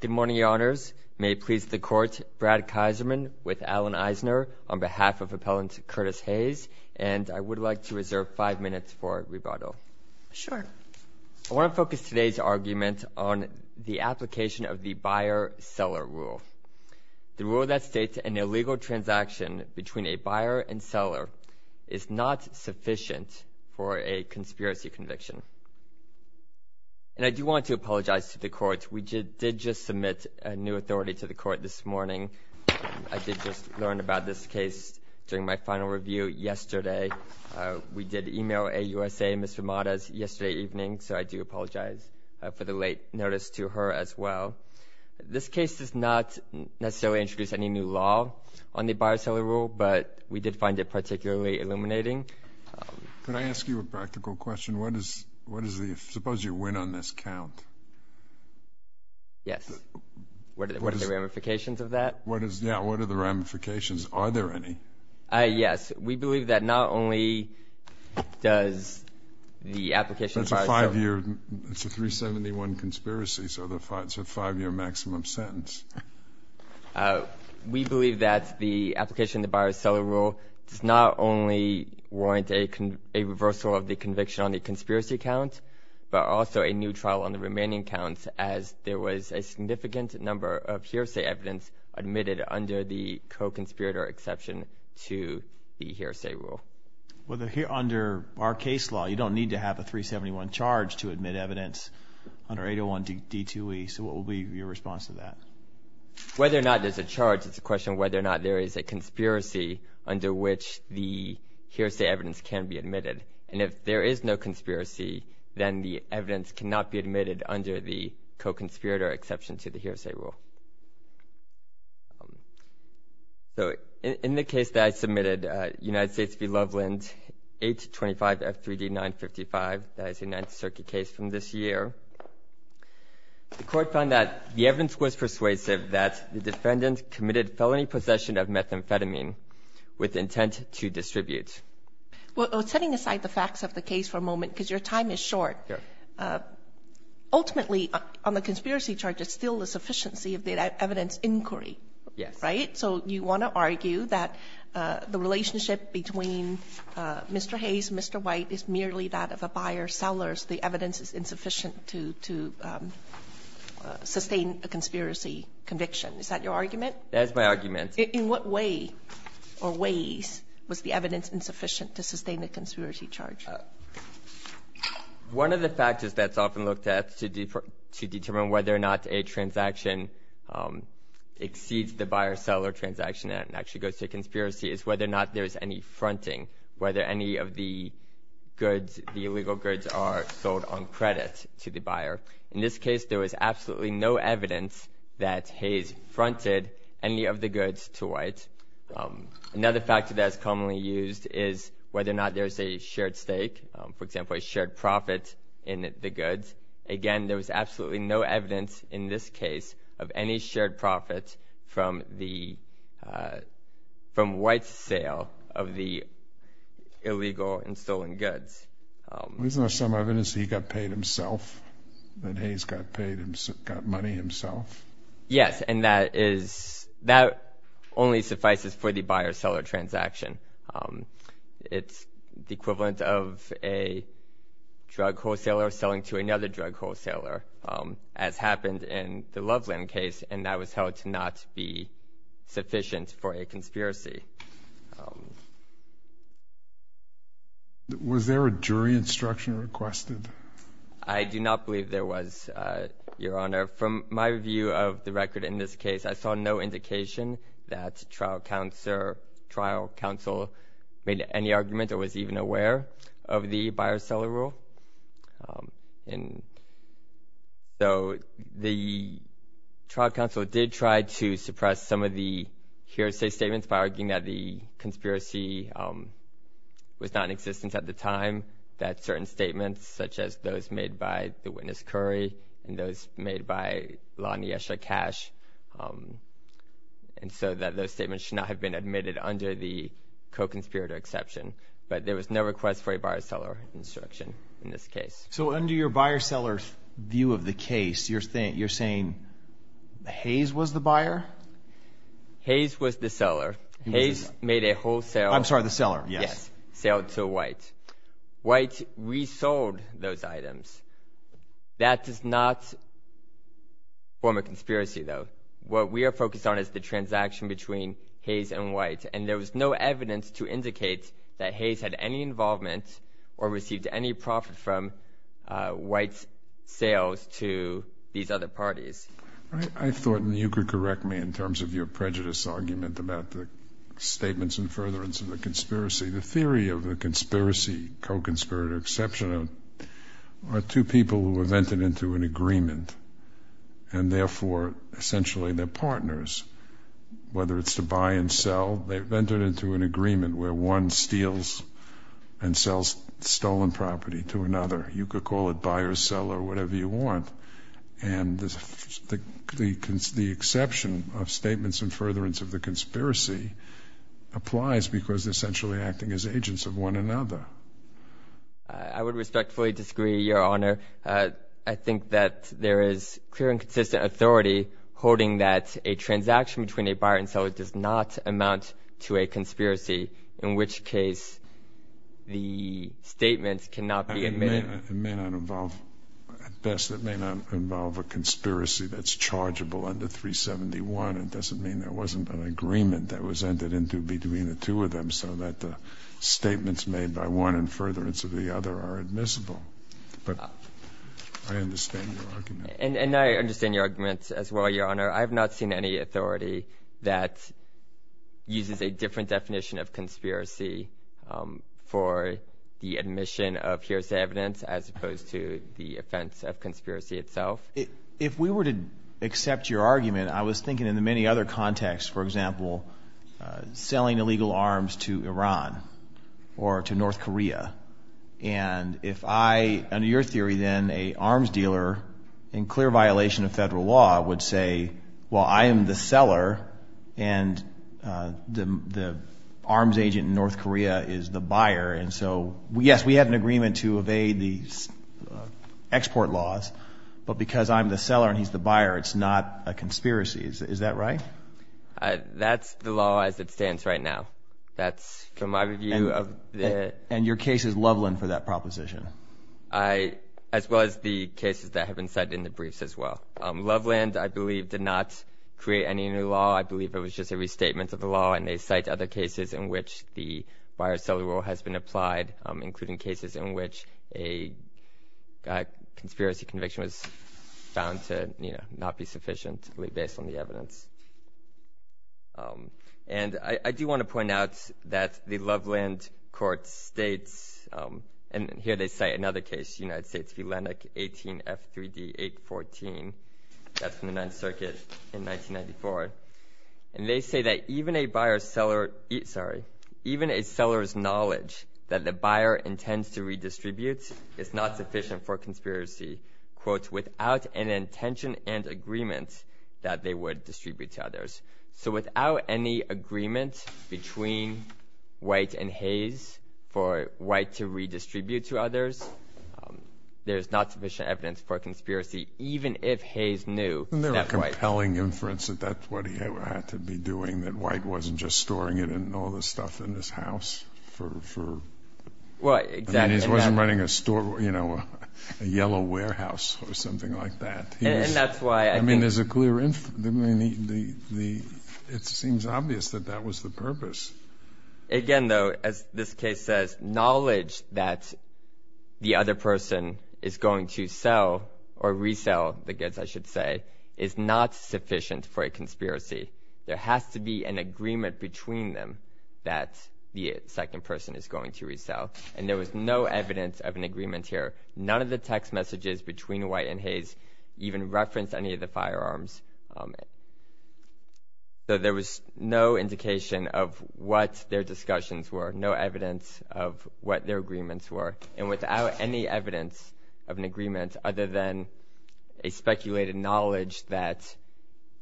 Good morning, Your Honors. May it please the Court, Brad Kaiserman with Alan Eisner on behalf of Appellant Curtis Hays. And I would like to reserve five minutes for rebuttal. Sure. I want to focus today's argument on the application of the buyer-seller rule. The rule that states an illegal transaction between a buyer and seller is not sufficient for a conspiracy conviction. And I do want to apologize to the Court. We did just submit a new authority to the Court this morning. I did just learn about this case during my final review yesterday. We did email AUSA, Ms. Ramadas, yesterday evening, so I do apologize for the late notice to her as well. This case does not necessarily introduce any new law on the buyer-seller rule, but we did find it particularly illuminating. Could I ask you a practical question? Suppose you win on this count. Yes. What are the ramifications of that? Yeah, what are the ramifications? Are there any? We believe that not only does the application of the buyer-seller rule That's a 371 conspiracy, so it's a five-year maximum sentence. We believe that the application of the buyer-seller rule does not only warrant a reversal of the conviction on the conspiracy count, but also a new trial on the remaining counts as there was a significant number of hearsay evidence admitted under the co-conspirator exception to the hearsay rule. Well, under our case law, you don't need to have a 371 charge to admit evidence under 801 D2E. So what will be your response to that? Whether or not there's a charge, it's a question whether or not there is a conspiracy under which the hearsay evidence can be admitted. And if there is no conspiracy, then the evidence cannot be admitted under the co-conspirator exception to the hearsay rule. So in the case that I submitted, United States v. Loveland, 825 F3D 955, that is a Ninth Circuit case from this year, the Court found that the evidence was persuasive that the defendant committed felony possession of methamphetamine with intent to distribute. Well, setting aside the facts of the case for a moment, because your time is short, ultimately, on the conspiracy charge, it's still a sufficiency of the evidence inquiry. Yes. Right? So you want to argue that the relationship between Mr. Hayes and Mr. White is merely that of a buyer-sellers, the evidence is insufficient to sustain a conspiracy conviction. Is that your argument? That is my argument. In what way or ways was the evidence insufficient to sustain the conspiracy charge? One of the factors that's often looked at to determine whether or not a transaction exceeds the buyer-seller transaction and actually goes to conspiracy is whether or not there is any fronting, whether any of the goods, the illegal goods, are sold on credit to the buyer. In this case, there was absolutely no evidence that Hayes fronted any of the goods to White. Another factor that's commonly used is whether or not there's a shared stake, for example, a shared profit in the goods. Again, there was absolutely no evidence in this case of any shared profit from White's sale of the illegal and stolen goods. Isn't there some evidence that he got paid himself, that Hayes got money himself? Yes, and that only suffices for the buyer-seller transaction. It's the equivalent of a drug wholesaler selling to another drug wholesaler, as happened in the Loveland case, and that was held to not be sufficient for a conspiracy. Was there a jury instruction requested? I do not believe there was, Your Honor. From my view of the record in this case, I saw no indication that trial counsel made any argument or was even aware of the buyer-seller rule. So the trial counsel did try to suppress some of the hearsay statements by arguing that the conspiracy was not in existence at the time, that certain statements, such as those made by the witness, Curry, and those made by Lonnie Esher Cash, and so that those statements should not have been admitted under the co-conspirator exception. But there was no request for a buyer-seller instruction in this case. So under your buyer-seller view of the case, you're saying Hayes was the buyer? Hayes was the seller. Hayes made a wholesale... I'm sorry, the seller, yes. ...wholesale to White. White resold those items. That does not form a conspiracy, though. What we are focused on is the transaction between Hayes and White, and there was no evidence to indicate that Hayes had any involvement or received any profit from White's sales to these other parties. I thought, and you could correct me in terms of your prejudice argument about the statements and furtherance of the conspiracy, the theory of the conspiracy, co-conspirator exception, are two people who are vented into an agreement, and therefore, essentially, they're partners. Whether it's to buy and sell, they're vented into an agreement where one steals and sells stolen property to another. You could call it buyer-seller, whatever you want. And the exception of statements and furtherance of the conspiracy applies because they're essentially acting as agents of one another. I would respectfully disagree, Your Honor. I think that there is clear and consistent authority holding that a transaction between a buyer and seller does not amount to a conspiracy, in which case the statements cannot be made. It may not involve, at best, it may not involve a conspiracy that's chargeable under 371. It doesn't mean there wasn't an agreement that was entered into between the two of them so that the statements made by one and furtherance of the other are admissible. But I understand your argument. And I understand your argument as well, Your Honor. I have not seen any authority that uses a different definition of conspiracy for the admission of hearsay evidence as opposed to the offense of conspiracy itself. If we were to accept your argument, I was thinking in the many other contexts, for example, selling illegal arms to Iran or to North Korea. And if I, under your theory then, a arms dealer, in clear violation of federal law, would say, well, I am the seller and the arms agent in North Korea is the buyer. And so, yes, we have an agreement to evade the export laws, but because I'm the seller and he's the buyer, it's not a conspiracy. Is that right? That's the law as it stands right now. That's from my view of the – And your case is Loveland for that proposition. As well as the cases that have been said in the briefs as well. Loveland, I believe, did not create any new law. I believe it was just a restatement of the law. And they cite other cases in which the buyer-seller rule has been applied, including cases in which a conspiracy conviction was found to not be sufficient, really based on the evidence. And I do want to point out that the Loveland court states – And here they cite another case, United States v. Lennox, 18 F3D 814. That's from the Ninth Circuit in 1994. And they say that even a buyer-seller – sorry. Even a seller's knowledge that the buyer intends to redistribute is not sufficient for conspiracy, quote, without an intention and agreement that they would distribute to others. So without any agreement between White and Hayes for White to redistribute to others, there's not sufficient evidence for a conspiracy, even if Hayes knew that White – And they're a compelling inference that that's what he had to be doing, that White wasn't just storing it in all the stuff in his house for – Well, exactly. I mean, he wasn't running a store, you know, a yellow warehouse or something like that. And that's why I think – It seems obvious that that was the purpose. Again, though, as this case says, knowledge that the other person is going to sell or resell the goods, I should say, is not sufficient for a conspiracy. There has to be an agreement between them that the second person is going to resell. And there was no evidence of an agreement here. None of the text messages between White and Hayes even referenced any of the firearms. So there was no indication of what their discussions were, no evidence of what their agreements were. And without any evidence of an agreement other than a speculated knowledge that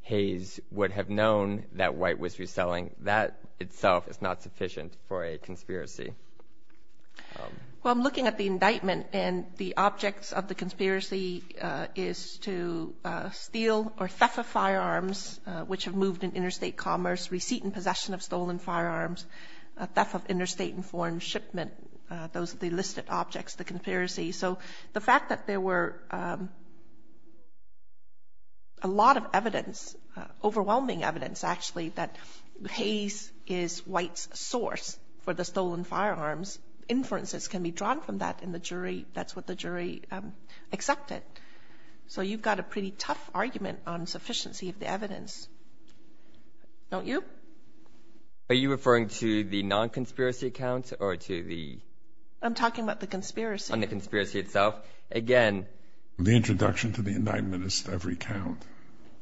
Hayes would have known that White was reselling, that itself is not sufficient for a conspiracy. Well, I'm looking at the indictment, and the objects of the conspiracy is to steal or theft of firearms, which have moved in interstate commerce, receipt and possession of stolen firearms, theft of interstate and foreign shipment. Those are the listed objects of the conspiracy. So the fact that there were a lot of evidence, overwhelming evidence, actually, that Hayes is White's source for the stolen firearms, inferences can be drawn from that in the jury. That's what the jury accepted. So you've got a pretty tough argument on sufficiency of the evidence, don't you? Are you referring to the non-conspiracy accounts or to the? I'm talking about the conspiracy. On the conspiracy itself. Again. The introduction to the indictment is to recount.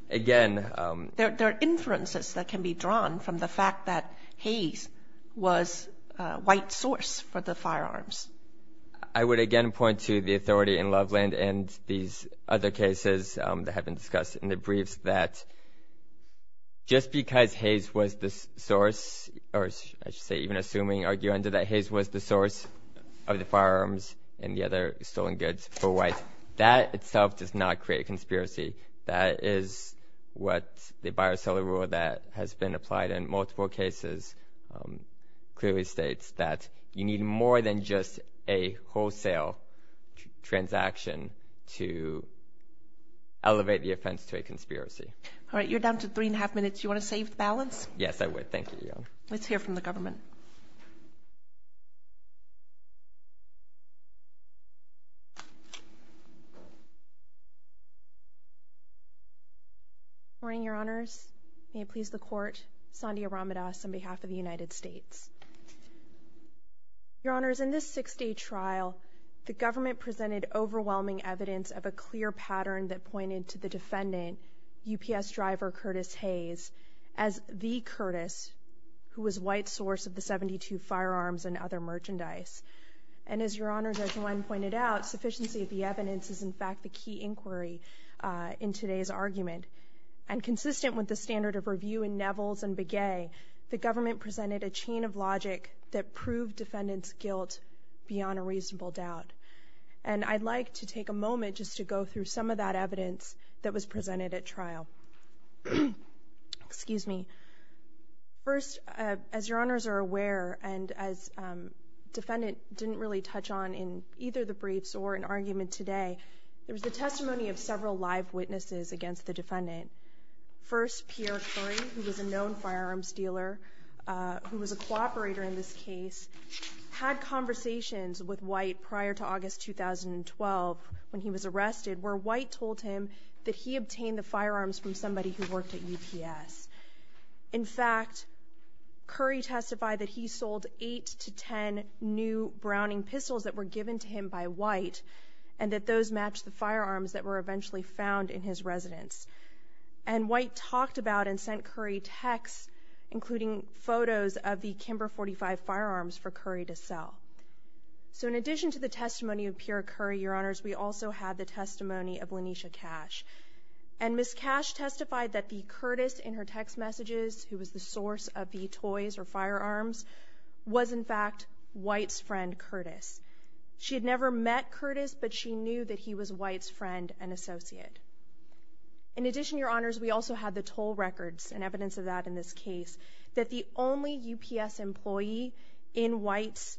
Again. There are inferences that can be drawn from the fact that Hayes was White's source for the firearms. I would again point to the authority in Loveland and these other cases that have been discussed in the briefs that just because Hayes was the source, or I should say, even assuming arguing that Hayes was the source of the firearms and the other stolen goods for White, that itself does not create a conspiracy. That is what the buyer-seller rule that has been applied in multiple cases clearly states that you need more than just a wholesale transaction to elevate the offense to a conspiracy. All right, you're down to three and a half minutes. Do you want to save the balance? Yes, I would. Thank you. Let's hear from the government. Good morning, Your Honors. May it please the Court. Sandia Ramadas on behalf of the United States. Your Honors, in this six-day trial, the government presented overwhelming evidence of a clear pattern that pointed to the defendant, UPS driver Curtis Hayes, as the Curtis who was White's source of the 72 firearms and other merchandise. And as Your Honors, as one pointed out, sufficiency of the evidence is, in fact, the key inquiry in today's argument. And consistent with the standard of review in Nevels and Begay, the government presented a chain of logic that proved defendant's guilt beyond a reasonable doubt. And I'd like to take a moment just to go through some of that evidence that was presented at trial. Excuse me. First, as Your Honors are aware, and as defendant didn't really touch on in either the briefs or in argument today, there was the testimony of several live witnesses against the defendant. First, Pierre Curry, who was a known firearms dealer, who was a cooperator in this case, had conversations with White prior to August 2012 when he was arrested where White told him that he obtained the firearms from somebody who worked at UPS. In fact, Curry testified that he sold 8 to 10 new Browning pistols that were given to him by White and that those matched the firearms that were eventually found in his residence. And White talked about and sent Curry texts, including photos of the Kimber .45 firearms for Curry to sell. So in addition to the testimony of Pierre Curry, Your Honors, we also have the testimony of Lanisha Cash. And Ms. Cash testified that the Curtis in her text messages, who was the source of the toys or firearms, was, in fact, White's friend Curtis. She had never met Curtis, but she knew that he was White's friend and associate. In addition, Your Honors, we also have the toll records and evidence of that in this case, that the only UPS employee in White's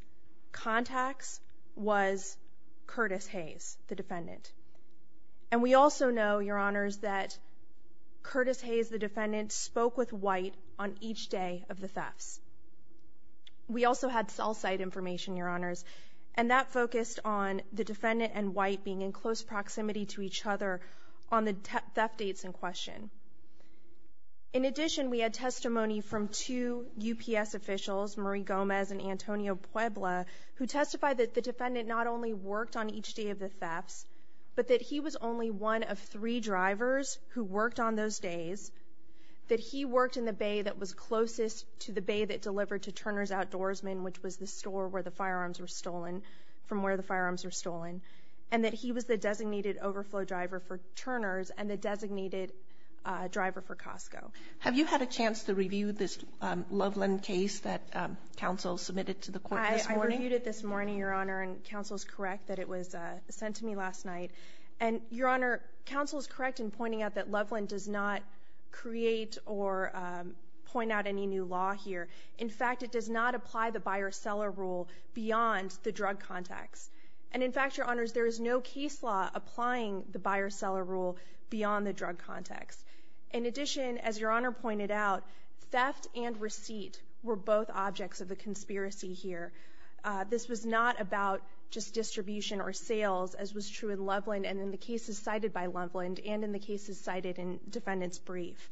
contacts was Curtis Hayes, the defendant. And we also know, Your Honors, that Curtis Hayes, the defendant, spoke with White on each day of the thefts. We also had cell site information, Your Honors, and that focused on the defendant and White being in close proximity to each other on the theft dates in question. In addition, we had testimony from two UPS officials, Marie Gomez and Antonio Puebla, who testified that the defendant not only worked on each day of the thefts, but that he was only one of three drivers who worked on those days, that he worked in the bay that was closest to the bay that delivered to Turner's Outdoorsmen, which was the store from where the firearms were stolen, and that he was the designated overflow driver for Turner's and the designated driver for Costco. Have you had a chance to review this Loveland case that counsel submitted to the court this morning? I reviewed it this morning, Your Honor, and counsel is correct that it was sent to me last night. And, Your Honor, counsel is correct in pointing out that Loveland does not create or point out any new law here. In fact, it does not apply the buyer-seller rule beyond the drug context. And, in fact, Your Honors, there is no case law applying the buyer-seller rule beyond the drug context. In addition, as Your Honor pointed out, theft and receipt were both objects of the conspiracy here. This was not about just distribution or sales, as was true in Loveland and in the cases cited by Loveland and in the cases cited in defendant's brief.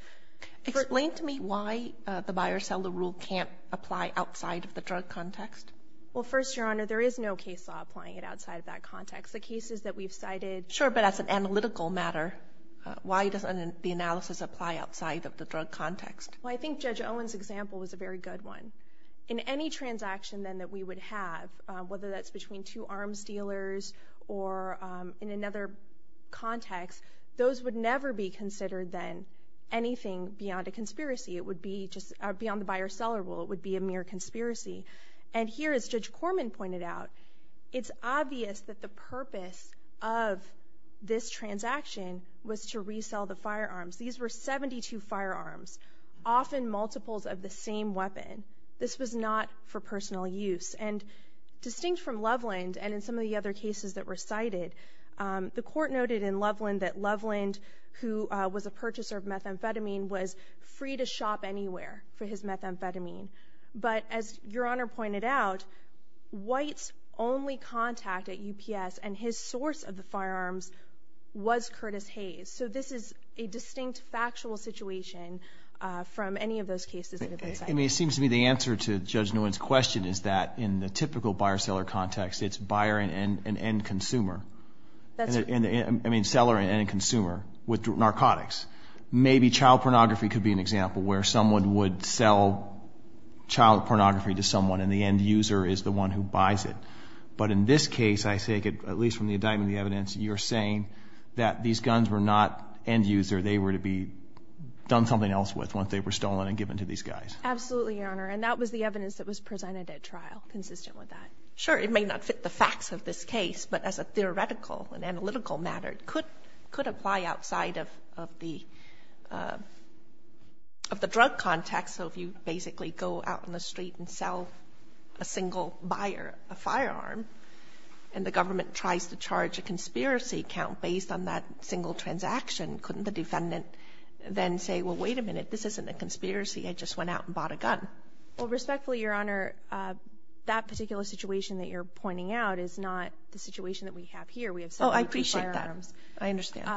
Explain to me why the buyer-seller rule can't apply outside of the drug context. Well, first, Your Honor, there is no case law applying it outside of that context. The cases that we've cited — Sure, but as an analytical matter, why doesn't the analysis apply outside of the drug context? Well, I think Judge Owen's example was a very good one. In any transaction, then, that we would have, whether that's between two arms dealers or in another context, those would never be considered, then, anything beyond a conspiracy. It would be just beyond the buyer-seller rule. It would be a mere conspiracy. And here, as Judge Corman pointed out, it's obvious that the purpose of this transaction was to resell the firearms. These were 72 firearms, often multiples of the same weapon. This was not for personal use. And distinct from Loveland and in some of the other cases that were cited, the Court noted in Loveland that Loveland, who was a purchaser of methamphetamine, was free to shop anywhere for his methamphetamine. But as Your Honor pointed out, White's only contact at UPS and his source of the firearms was Curtis Hayes. So this is a distinct factual situation from any of those cases that have been cited. I mean, it seems to me the answer to Judge Nguyen's question is that in the typical buyer-seller context, it's buyer and end consumer. That's right. I mean, seller and end consumer with narcotics. Maybe child pornography could be an example where someone would sell child pornography to someone and the end user is the one who buys it. But in this case, I take it, at least from the indictment of the evidence, you're saying that these guns were not end user. They were to be done something else with once they were stolen and given to these guys. Absolutely, Your Honor. And that was the evidence that was presented at trial, consistent with that. Sure. It may not fit the facts of this case, but as a theoretical and analytical matter, it could apply outside of the drug context. So if you basically go out on the street and sell a single buyer a firearm and the government tries to charge a conspiracy account based on that single transaction, couldn't the defendant then say, well, wait a minute, this isn't a conspiracy, I just went out and bought a gun? Well, respectfully, Your Honor, that particular situation that you're pointing out is not the situation that we have here. Oh, I appreciate that. I understand.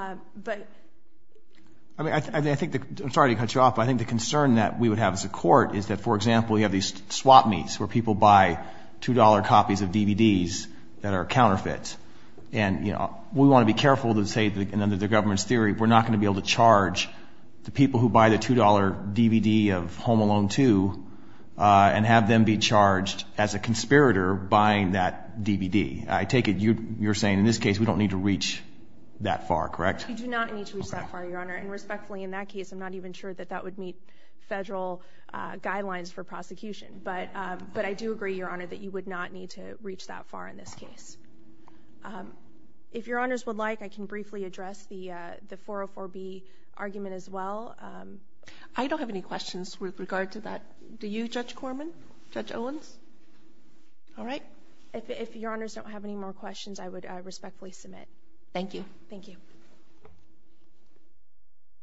I'm sorry to cut you off, but I think the concern that we would have as a court is that, for example, you have these swap meets where people buy $2 copies of DVDs that are counterfeit. And we want to be careful to say, and under the government's theory, we're not going to be able to charge the people who buy the $2 DVD of Home Alone 2 and have them be charged as a conspirator buying that DVD. I take it you're saying in this case we don't need to reach that far, correct? You do not need to reach that far, Your Honor. And respectfully, in that case, I'm not even sure that that would meet federal guidelines for prosecution. But I do agree, Your Honor, that you would not need to reach that far in this case. If Your Honors would like, I can briefly address the 404B argument as well. I don't have any questions with regard to that. Do you, Judge Corman? Judge Owens? All right. If Your Honors don't have any more questions, I would respectfully submit. Thank you. Thank you.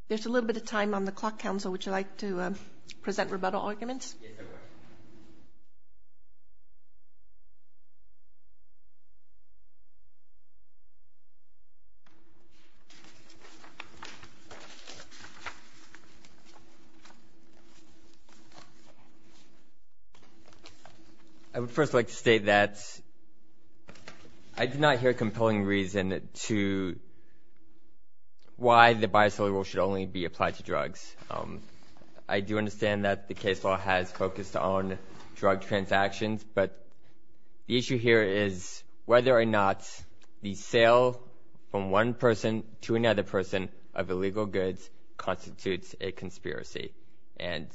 There's a little bit of time on the clock. Counsel, would you like to present rebuttal arguments? Yes, I would. I would first like to state that I do not hear a compelling reason to why the buy-as-sale rule should only be applied to drugs. I do understand that the case law has focused on drug transactions, but the issue here is whether or not the sale from one person to another person of illegal goods constitutes a conspiracy. And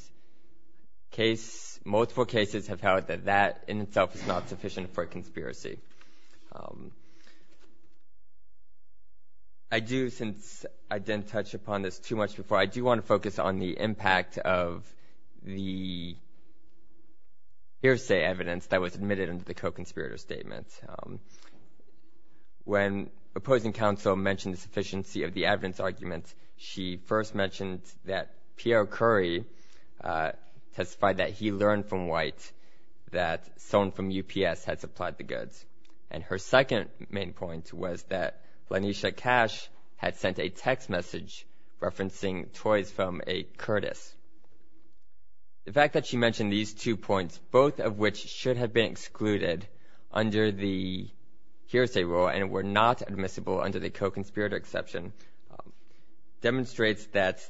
multiple cases have held that that in itself is not sufficient for a conspiracy. I do, since I didn't touch upon this too much before, I do want to focus on the impact of the hearsay evidence that was admitted in the co-conspirator statement. When opposing counsel mentioned the sufficiency of the evidence argument, she first mentioned that Pierre Currie testified that he learned from White that someone from UPS had supplied the goods. And her second main point was that Lanisha Cash had sent a text message referencing toys from a Curtis. The fact that she mentioned these two points, both of which should have been excluded under the hearsay rule and were not admissible under the co-conspirator exception, demonstrates that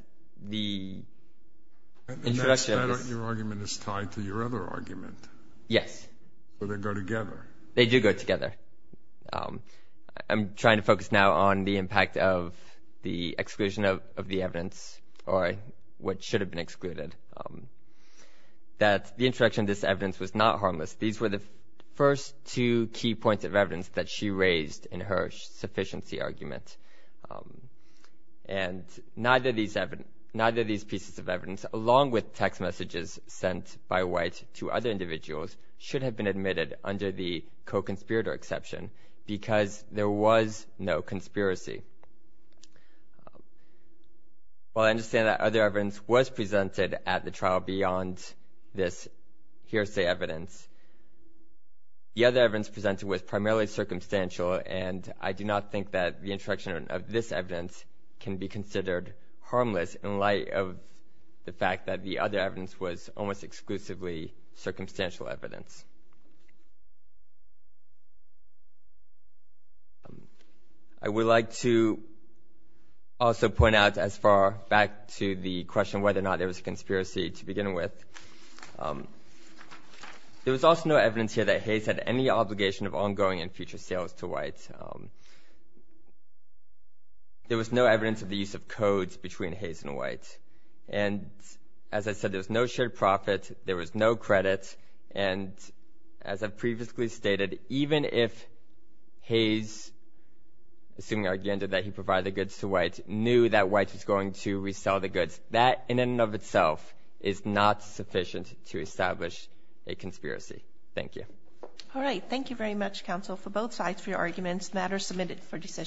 the introduction of this- And that your argument is tied to your other argument. Yes. So they go together. They do go together. I'm trying to focus now on the impact of the exclusion of the evidence, or what should have been excluded, that the introduction of this evidence was not harmless. These were the first two key points of evidence that she raised in her sufficiency argument. And neither of these pieces of evidence, along with text messages sent by White to other individuals, should have been admitted under the co-conspirator exception because there was no conspiracy. While I understand that other evidence was presented at the trial beyond this hearsay evidence, the other evidence presented was primarily circumstantial, and I do not think that the introduction of this evidence can be considered harmless in light of the fact that the other evidence was almost exclusively circumstantial evidence. I would like to also point out, as far back to the question whether or not there was a conspiracy to begin with, there was also no evidence here that Hayes had any obligation of ongoing and future sales to White. There was no evidence of the use of codes between Hayes and White. And as I said, there was no shared profit. There was no credit. And as I've previously stated, even if Hayes, assuming the argument that he provided the goods to White, knew that White was going to resell the goods, that in and of itself is not sufficient to establish a conspiracy. Thank you. All right. Thank you very much, counsel, for both sides for your arguments. The matter is submitted for decision.